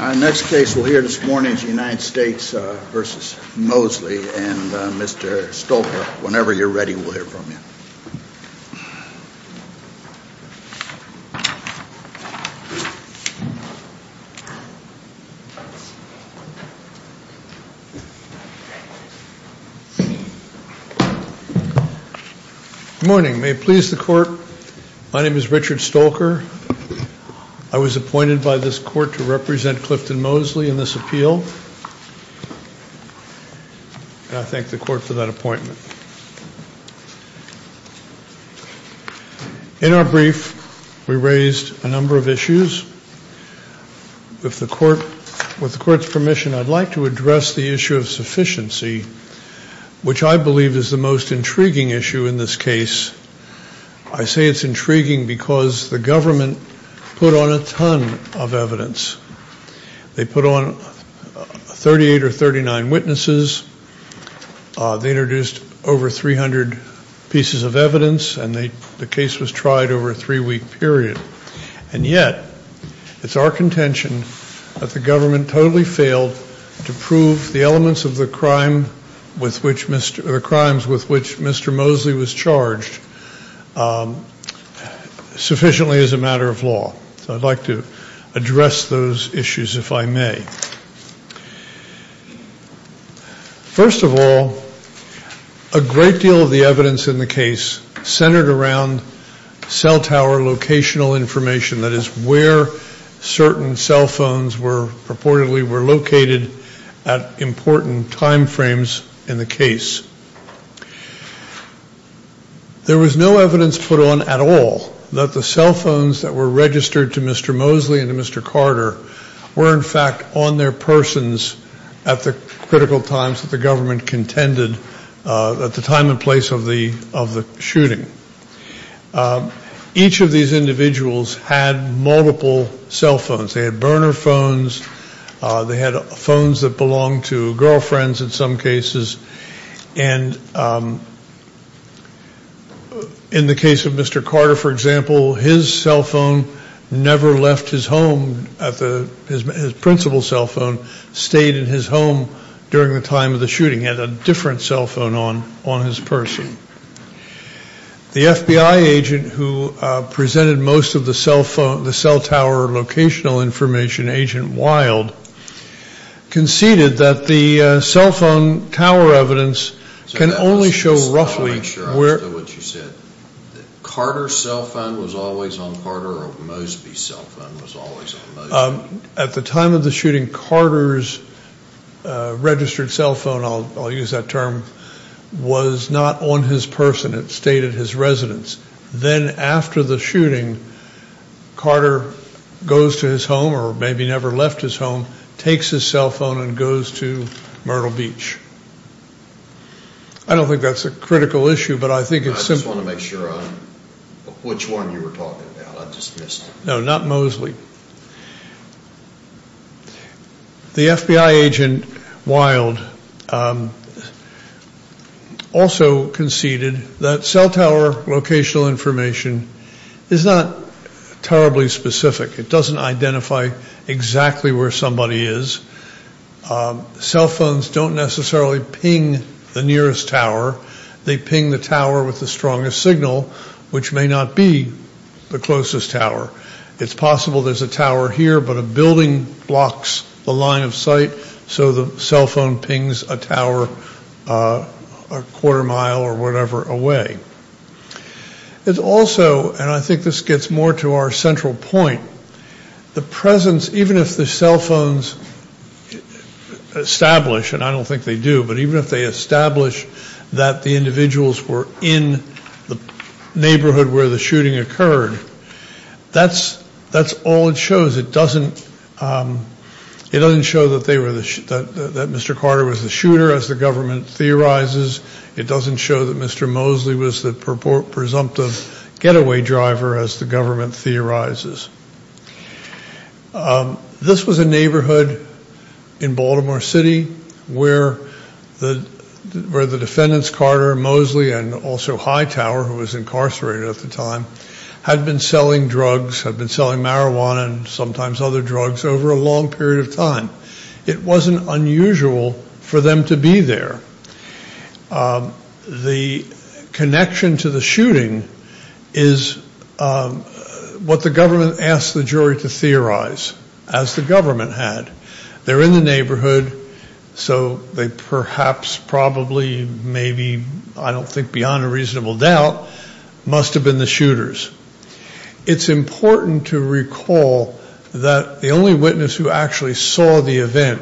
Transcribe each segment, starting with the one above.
Our next case we'll hear this morning is United States v. Mosley, and Mr. Stolker, whenever you're ready, we'll hear from you. Good morning. May it please the Court, my name is Richard Stolker. I was appointed by this Court to represent Clifton Mosley in this appeal, and I thank the Court for that appointment. In our brief, we raised a number of issues. With the Court's permission, I'd like to address the issue of sufficiency, which I believe is the most intriguing issue in this case. I say it's intriguing because the government put on a ton of evidence. They put on 38 or 39 witnesses, they introduced over 300 pieces of evidence, and the case was tried over a three-week period. And yet, it's our contention that the government totally failed to prove the elements of the crimes with which Mr. Mosley was charged sufficiently as a matter of law. So I'd like to address those issues, if I may. First of all, a great deal of the evidence in the case centered around cell tower locational information. That is where certain cell phones purportedly were located at important time frames in the case. There was no evidence put on at all that the cell phones that were registered to Mr. Mosley and to Mr. Carter were in fact on their persons at the critical times that the government contended at the time and place of the shooting. Each of these individuals had multiple cell phones. They had burner phones, they had phones that belonged to girlfriends in some cases, and in the case of Mr. Carter, for example, his cell phone never left his home. His principal cell phone stayed in his home during the time of the shooting. He had a different cell phone on his person. The FBI agent who presented most of the cell tower locational information, Agent Wild, conceded that the cell tower evidence can only show roughly where... Carter's cell phone was always on Carter or Mosley's cell phone was always on Mosley? Then after the shooting, Carter goes to his home or maybe never left his home, takes his cell phone and goes to Myrtle Beach. I don't think that's a critical issue, but I think it's... I just want to make sure which one you were talking about. I just missed... Locational information is not terribly specific. It doesn't identify exactly where somebody is. Cell phones don't necessarily ping the nearest tower. They ping the tower with the strongest signal, which may not be the closest tower. It's possible there's a tower here, but a building blocks the line of sight, so the cell phone pings a tower a quarter mile or whatever away. It's also, and I think this gets more to our central point, the presence, even if the cell phones establish, and I don't think they do, but even if they establish that the individuals were in the neighborhood where the shooting occurred, that's all it shows. It doesn't show that Mr. Carter was the shooter, as the government theorizes. It doesn't show that Mr. Mosley was the presumptive getaway driver, as the government theorizes. This was a neighborhood in Baltimore City where the defendants, Carter, Mosley, and also Hightower, who was incarcerated at the time, had been selling drugs, had been selling marijuana and sometimes other drugs over a long period of time. It wasn't unusual for them to be there. The connection to the shooting is what the government asked the jury to theorize, as the government had. They're in the neighborhood, so they perhaps, probably, maybe, I don't think beyond a reasonable doubt, must have been the shooters. It's important to recall that the only witness who actually saw the event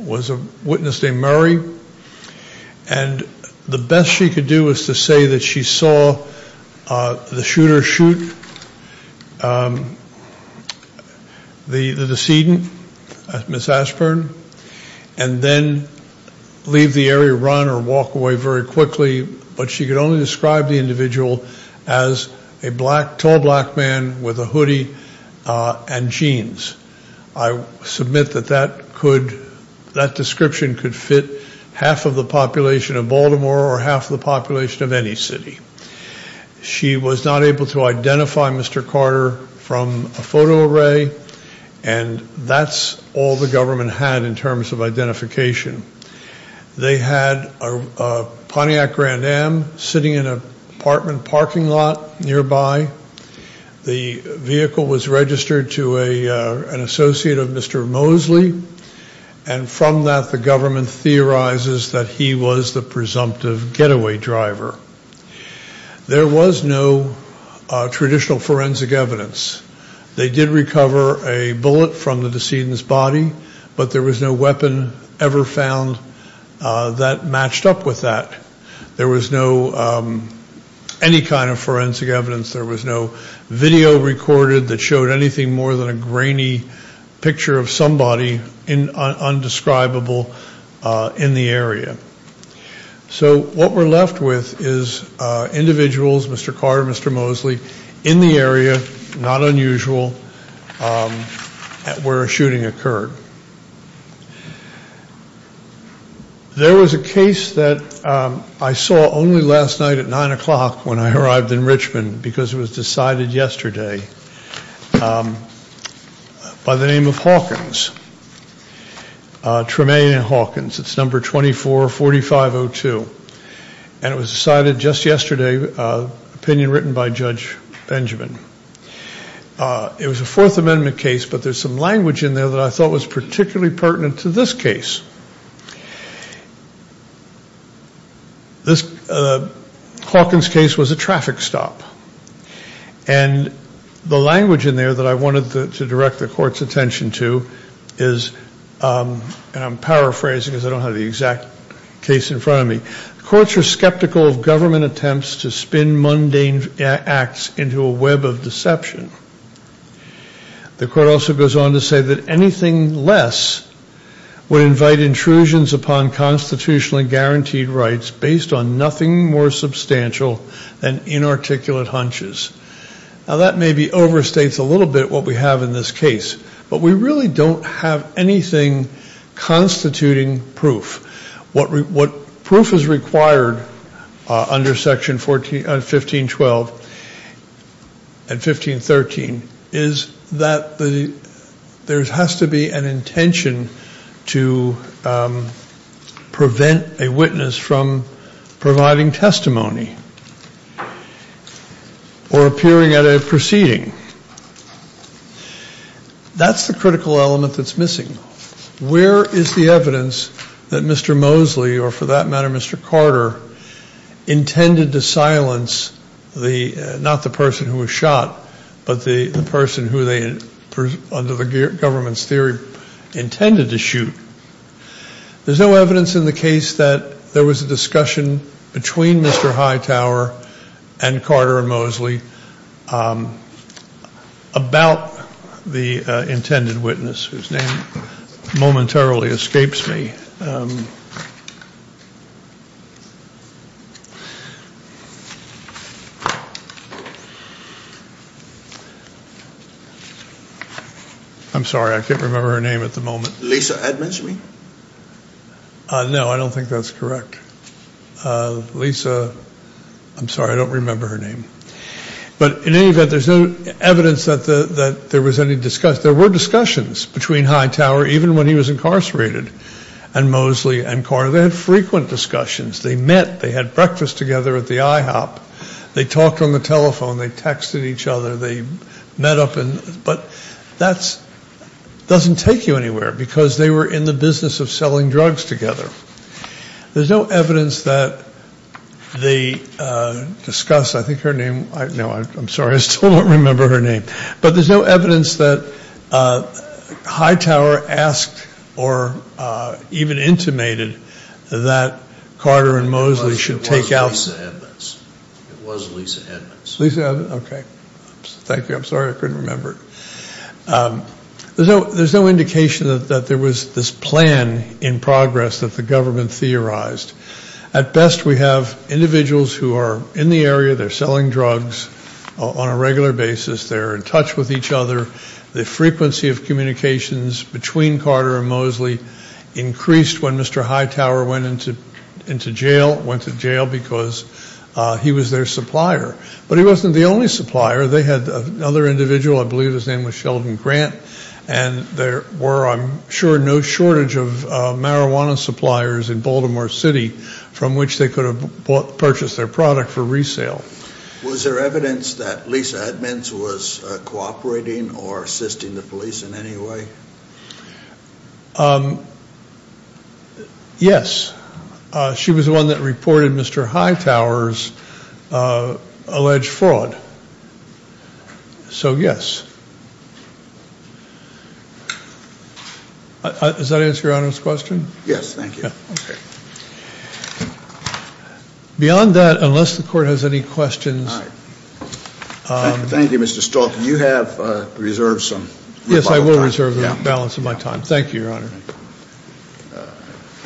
was a witness named Murray, and the best she could do was to say that she saw the shooter shoot the decedent, Ms. Ashburn, and then leave the area, run or walk away very quickly. But she could only describe the individual as a tall black man with a hoodie and jeans. I submit that that description could fit half of the population of Baltimore or half of the population of any city. She was not able to identify Mr. Carter from a photo array, and that's all the government had in terms of identification. They had a Pontiac Grand Am sitting in an apartment parking lot nearby. The vehicle was registered to an associate of Mr. Mosley, and from that the government theorizes that he was the presumptive getaway driver. There was no traditional forensic evidence. They did recover a bullet from the decedent's body, but there was no weapon ever found that matched up with that. There was no, any kind of forensic evidence. There was no video recorded that showed anything more than a grainy picture of somebody indescribable in the area. So what we're left with is individuals, Mr. Carter, Mr. Mosley, in the area, not unusual, where a shooting occurred. There was a case that I saw only last night at 9 o'clock when I arrived in Richmond because it was decided yesterday by the name of Hawkins, Tremaine and Hawkins. It's number 244502, and it was decided just yesterday, opinion written by Judge Benjamin. It was a Fourth Amendment case, but there's some language in there that I thought was particularly pertinent to this case. Hawkins' case was a traffic stop, and the language in there that I wanted to direct the court's attention to is, and I'm paraphrasing because I don't have the exact case in front of me, courts are skeptical of government attempts to spin mundane acts into a web of deception. The court also goes on to say that anything less would invite intrusions upon constitutional and guaranteed rights based on nothing more substantial than inarticulate hunches. Now that maybe overstates a little bit what we have in this case, but we really don't have anything constituting proof. What proof is required under Section 1512 and 1513 is that there has to be an intention to prevent a witness from providing testimony or appearing at a proceeding. That's the critical element that's missing. Where is the evidence that Mr. Mosley, or for that matter, Mr. Carter, intended to silence not the person who was shot, but the person who they, under the government's theory, intended to shoot? There's no evidence in the case that there was a discussion between Mr. Hightower and Carter and Mosley about the intended witness, whose name momentarily escapes me. I'm sorry, I can't remember her name at the moment. Lisa Edmonds, you mean? No, I don't think that's correct. Lisa, I'm sorry, I don't remember her name. But in any event, there's no evidence that there was any discussion. There were discussions between Hightower, even when he was incarcerated, and Mosley and Carter. They had frequent discussions. They met. They had breakfast together at the IHOP. They talked on the telephone. They texted each other. But that doesn't take you anywhere because they were in the business of selling drugs together. There's no evidence that they discussed. I think her name, no, I'm sorry, I still don't remember her name. But there's no evidence that Hightower asked or even intimated that Carter and Mosley should take out. It was Lisa Edmonds. It was Lisa Edmonds. Okay. Thank you. I'm sorry, I couldn't remember. There's no indication that there was this plan in progress that the government theorized. At best, we have individuals who are in the area. They're selling drugs on a regular basis. They're in touch with each other. The frequency of communications between Carter and Mosley increased when Mr. Hightower went to jail because he was their supplier. But he wasn't the only supplier. They had another individual. I believe his name was Sheldon Grant. And there were, I'm sure, no shortage of marijuana suppliers in Baltimore City from which they could have purchased their product for resale. Was there evidence that Lisa Edmonds was cooperating or assisting the police in any way? Yes. She was the one that reported Mr. Hightower's alleged fraud. So, yes. Does that answer Your Honor's question? Yes, thank you. Okay. Beyond that, unless the Court has any questions. Thank you, Mr. Stalk. You have reserved some. Yes, I will reserve the balance of my time. Thank you, Your Honor.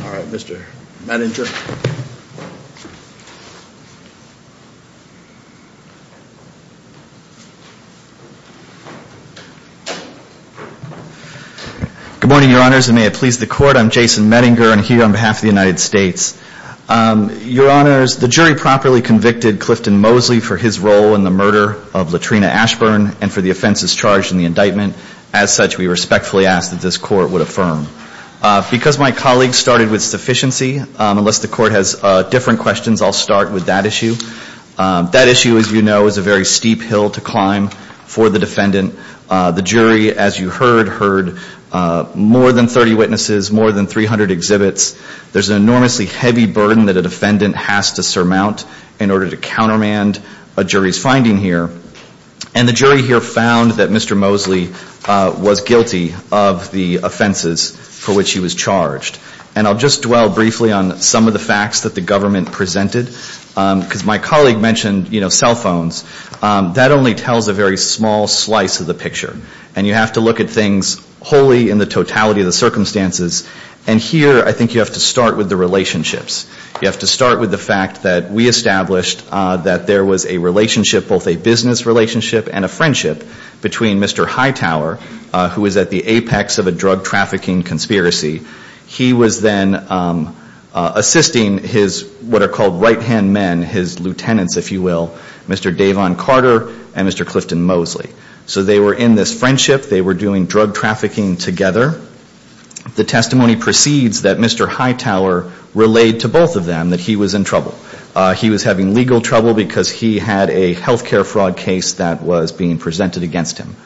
All right, Mr. Medinger. Good morning, Your Honors, and may it please the Court. I'm Jason Medinger. I'm here on behalf of the United States. Your Honors, the jury properly convicted Clifton Mosley for his role in the murder of Latrina Ashburn and for the offenses charged in the indictment. As such, we respectfully ask that this Court would affirm. Because my colleague started with sufficiency, unless the Court has different questions, I'll start with that issue. That issue, as you know, is a very steep hill to climb for the defendant. The jury, as you heard, heard more than 30 witnesses, more than 300 exhibits. There's an enormously heavy burden that a defendant has to surmount in order to countermand a jury's finding here. And the jury here found that Mr. Mosley was guilty of the offenses for which he was charged. And I'll just dwell briefly on some of the facts that the government presented. Because my colleague mentioned, you know, cell phones. That only tells a very small slice of the picture. And you have to look at things wholly in the totality of the circumstances. And here, I think you have to start with the relationships. You have to start with the fact that we established that there was a relationship, both a business relationship and a friendship, between Mr. Hightower, who was at the apex of a drug trafficking conspiracy. He was then assisting his what are called right-hand men, his lieutenants, if you will, Mr. Davon Carter and Mr. Clifton Mosley. So they were in this friendship. They were doing drug trafficking together. The testimony proceeds that Mr. Hightower relayed to both of them that he was in trouble. He was having legal trouble because he had a healthcare fraud case that was being presented against him.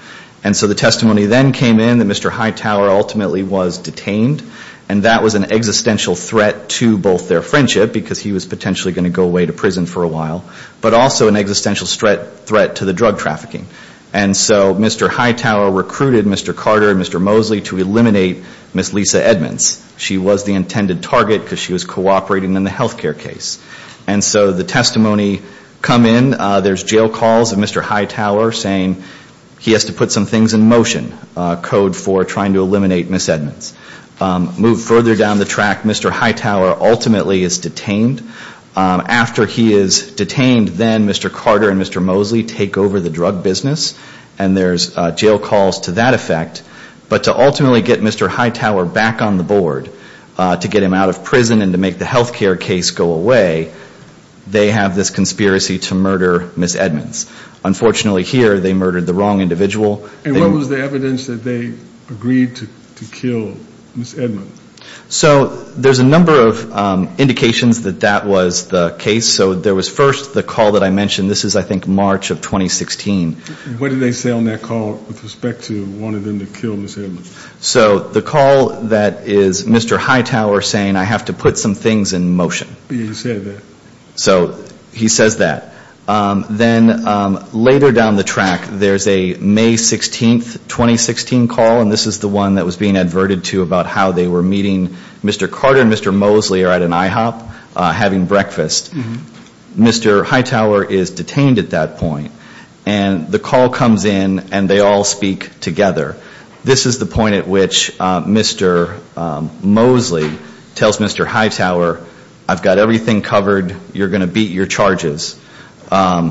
And so the testimony then came in that Mr. Hightower ultimately was detained. And that was an existential threat to both their friendship, because he was potentially going to go away to prison for a while, but also an existential threat to the drug trafficking. And so Mr. Hightower recruited Mr. Carter and Mr. Mosley to eliminate Ms. Lisa Edmonds. She was the intended target because she was cooperating in the healthcare case. And so the testimony come in. There's jail calls of Mr. Hightower saying he has to put some things in motion, code for trying to eliminate Ms. Edmonds. Move further down the track, Mr. Hightower ultimately is detained. After he is detained, then Mr. Carter and Mr. Mosley take over the drug business. And there's jail calls to that effect. But to ultimately get Mr. Hightower back on the board, to get him out of prison and to make the healthcare case go away, they have this conspiracy to murder Ms. Edmonds. Unfortunately here, they murdered the wrong individual. And what was the evidence that they agreed to kill Ms. Edmonds? So there's a number of indications that that was the case. So there was first the call that I mentioned. This is, I think, March of 2016. What did they say on that call with respect to wanting them to kill Ms. Edmonds? So the call that is Mr. Hightower saying I have to put some things in motion. He said that. So he says that. Then later down the track, there's a May 16, 2016 call. And this is the one that was being adverted to about how they were meeting. Mr. Carter and Mr. Mosley are at an IHOP having breakfast. Mr. Hightower is detained at that point. And the call comes in, and they all speak together. This is the point at which Mr. Mosley tells Mr. Hightower, I've got everything covered. You're going to beat your charges. I'm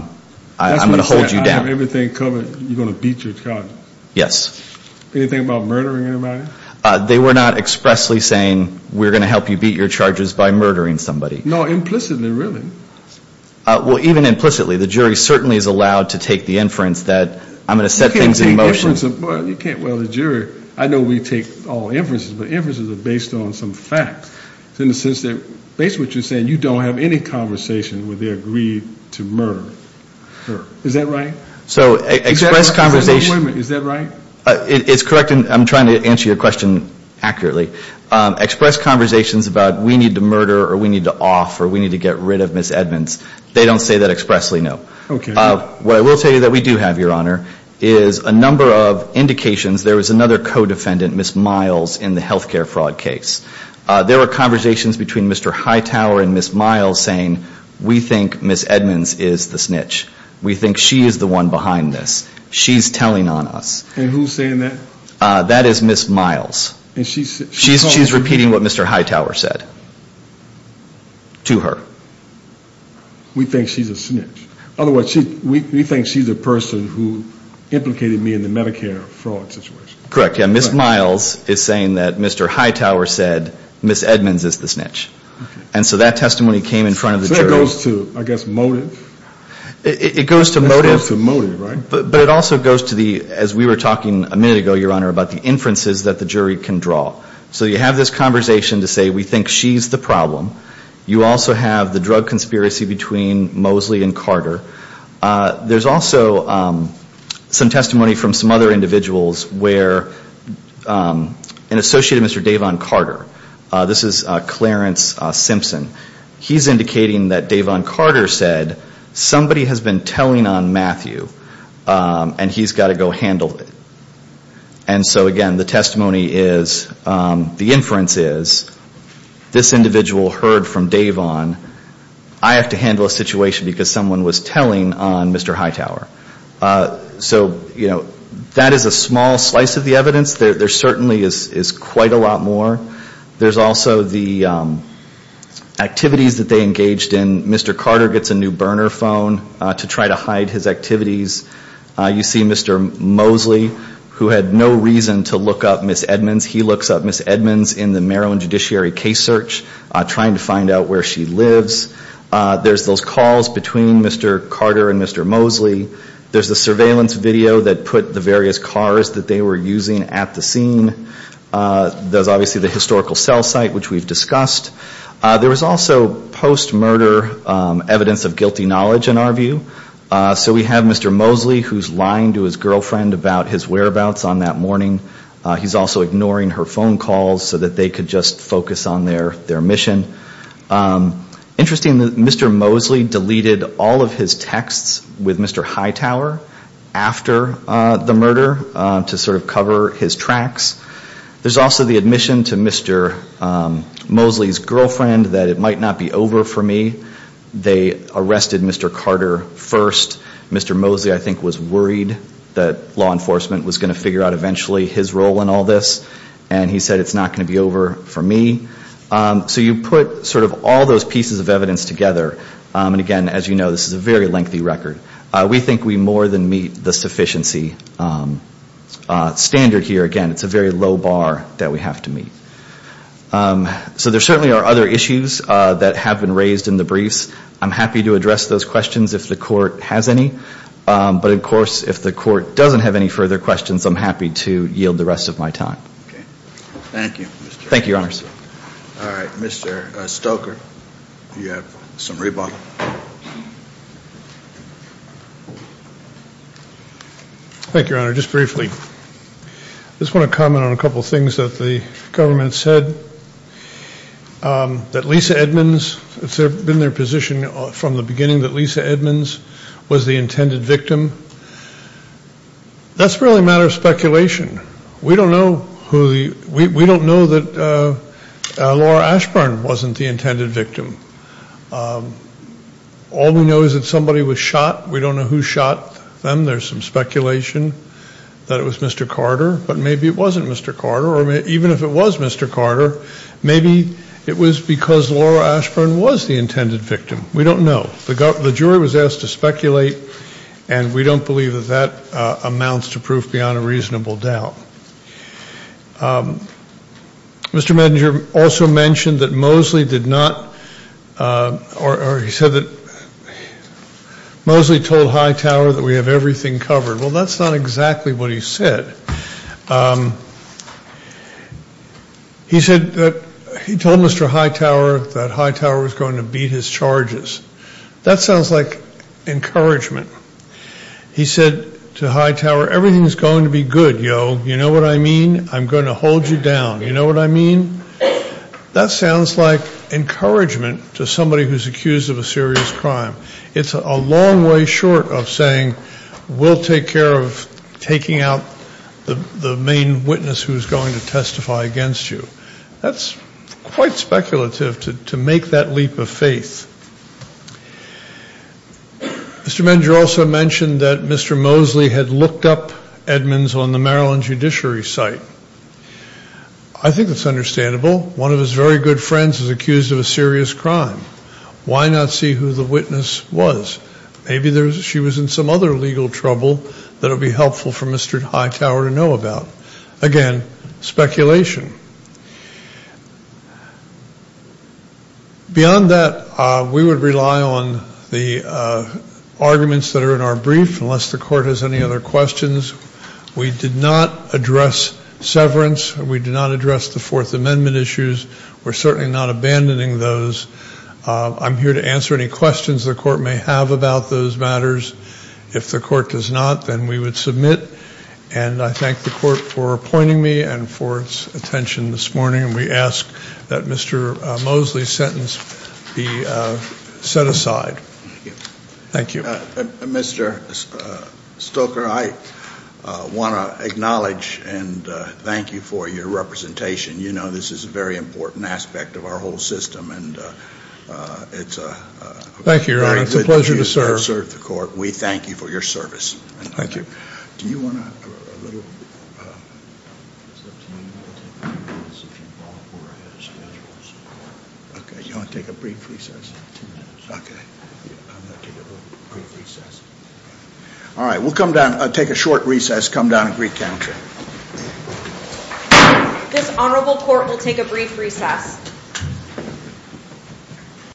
going to hold you down. I've got everything covered. You're going to beat your charges. Yes. Anything about murdering anybody? They were not expressly saying we're going to help you beat your charges by murdering somebody. No, implicitly, really. Well, even implicitly. The jury certainly is allowed to take the inference that I'm going to set things in motion. Well, the jury, I know we take all inferences, but inferences are based on some facts. It's in the sense that based on what you're saying, you don't have any conversation where they agreed to murder her. Is that right? So express conversation. Is that right? It's correct, and I'm trying to answer your question accurately. Express conversations about we need to murder or we need to off or we need to get rid of Ms. Edmonds, they don't say that expressly, no. Okay. What I will tell you that we do have, Your Honor, is a number of indications. There was another co-defendant, Ms. Miles, in the health care fraud case. There were conversations between Mr. Hightower and Ms. Miles saying we think Ms. Edmonds is the snitch. We think she is the one behind this. She's telling on us. And who's saying that? That is Ms. Miles. She's repeating what Mr. Hightower said to her. We think she's a snitch. Otherwise, we think she's the person who implicated me in the Medicare fraud situation. Correct. Ms. Miles is saying that Mr. Hightower said Ms. Edmonds is the snitch. And so that testimony came in front of the jury. It goes to, I guess, motive. It goes to motive. It goes to motive, right? But it also goes to the, as we were talking a minute ago, Your Honor, about the inferences that the jury can draw. So you have this conversation to say we think she's the problem. You also have the drug conspiracy between Mosley and Carter. There's also some testimony from some other individuals where an associate of Mr. Davon Carter, this is Clarence Simpson, he's indicating that Davon Carter said somebody has been telling on Matthew and he's got to go handle it. And so, again, the testimony is, the inference is, this individual heard from Davon. I have to handle a situation because someone was telling on Mr. Hightower. So, you know, that is a small slice of the evidence. There certainly is quite a lot more. There's also the activities that they engaged in. Mr. Carter gets a new burner phone to try to hide his activities. You see Mr. Mosley, who had no reason to look up Ms. Edmonds. He looks up Ms. Edmonds in the Maryland Judiciary case search trying to find out where she lives. There's those calls between Mr. Carter and Mr. Mosley. There's the surveillance video that put the various cars that they were using at the scene. There's obviously the historical cell site, which we've discussed. There was also post-murder evidence of guilty knowledge, in our view. So we have Mr. Mosley who's lying to his girlfriend about his whereabouts on that morning. He's also ignoring her phone calls so that they could just focus on their mission. Interestingly, Mr. Mosley deleted all of his texts with Mr. Hightower after the murder to sort of cover his tracks. There's also the admission to Mr. Mosley's girlfriend that it might not be over for me. They arrested Mr. Carter first. Mr. Mosley, I think, was worried that law enforcement was going to figure out eventually his role in all this. And he said it's not going to be over for me. So you put sort of all those pieces of evidence together. And, again, as you know, this is a very lengthy record. We think we more than meet the sufficiency standard here. Again, it's a very low bar that we have to meet. So there certainly are other issues that have been raised in the briefs. I'm happy to address those questions if the Court has any. But, of course, if the Court doesn't have any further questions, I'm happy to yield the rest of my time. Thank you. Thank you, Your Honor. All right, Mr. Stoker, you have some rebuttal. Thank you, Your Honor. Just briefly, I just want to comment on a couple of things that the government said. That Lisa Edmonds, it's been their position from the beginning that Lisa Edmonds was the intended victim. That's really a matter of speculation. We don't know that Laura Ashburn wasn't the intended victim. All we know is that somebody was shot. We don't know who shot them. There's some speculation that it was Mr. Carter. But maybe it wasn't Mr. Carter. Or even if it was Mr. Carter, maybe it was because Laura Ashburn was the intended victim. We don't know. The jury was asked to speculate, and we don't believe that that amounts to proof beyond a reasonable doubt. Mr. Medinger also mentioned that Mosley did not, or he said that Mosley told Hightower that we have everything covered. Well, that's not exactly what he said. He said that he told Mr. Hightower that Hightower was going to beat his charges. That sounds like encouragement. He said to Hightower, everything's going to be good, yo. You know what I mean? I'm going to hold you down. You know what I mean? That sounds like encouragement to somebody who's accused of a serious crime. It's a long way short of saying we'll take care of taking out the main witness who's going to testify against you. That's quite speculative to make that leap of faith. Mr. Medinger also mentioned that Mr. Mosley had looked up Edmonds on the Maryland Judiciary site. I think that's understandable. One of his very good friends is accused of a serious crime. Why not see who the witness was? Maybe she was in some other legal trouble that would be helpful for Mr. Hightower to know about. Again, speculation. Beyond that, we would rely on the arguments that are in our brief, unless the court has any other questions. We did not address severance. We did not address the Fourth Amendment issues. We're certainly not abandoning those. I'm here to answer any questions the court may have about those matters. If the court does not, then we would submit. I thank the court for appointing me and for its attention this morning. We ask that Mr. Mosley's sentence be set aside. Thank you. Mr. Stoker, I want to acknowledge and thank you for your representation. You know this is a very important aspect of our whole system. Thank you, Your Honor. It's a pleasure to serve. We thank you for your service. Thank you. Do you want to... Okay, you want to take a brief recess? Okay. I'm going to take a brief recess. All right, we'll come down, take a short recess, come down and recount. This honorable court will take a brief recess.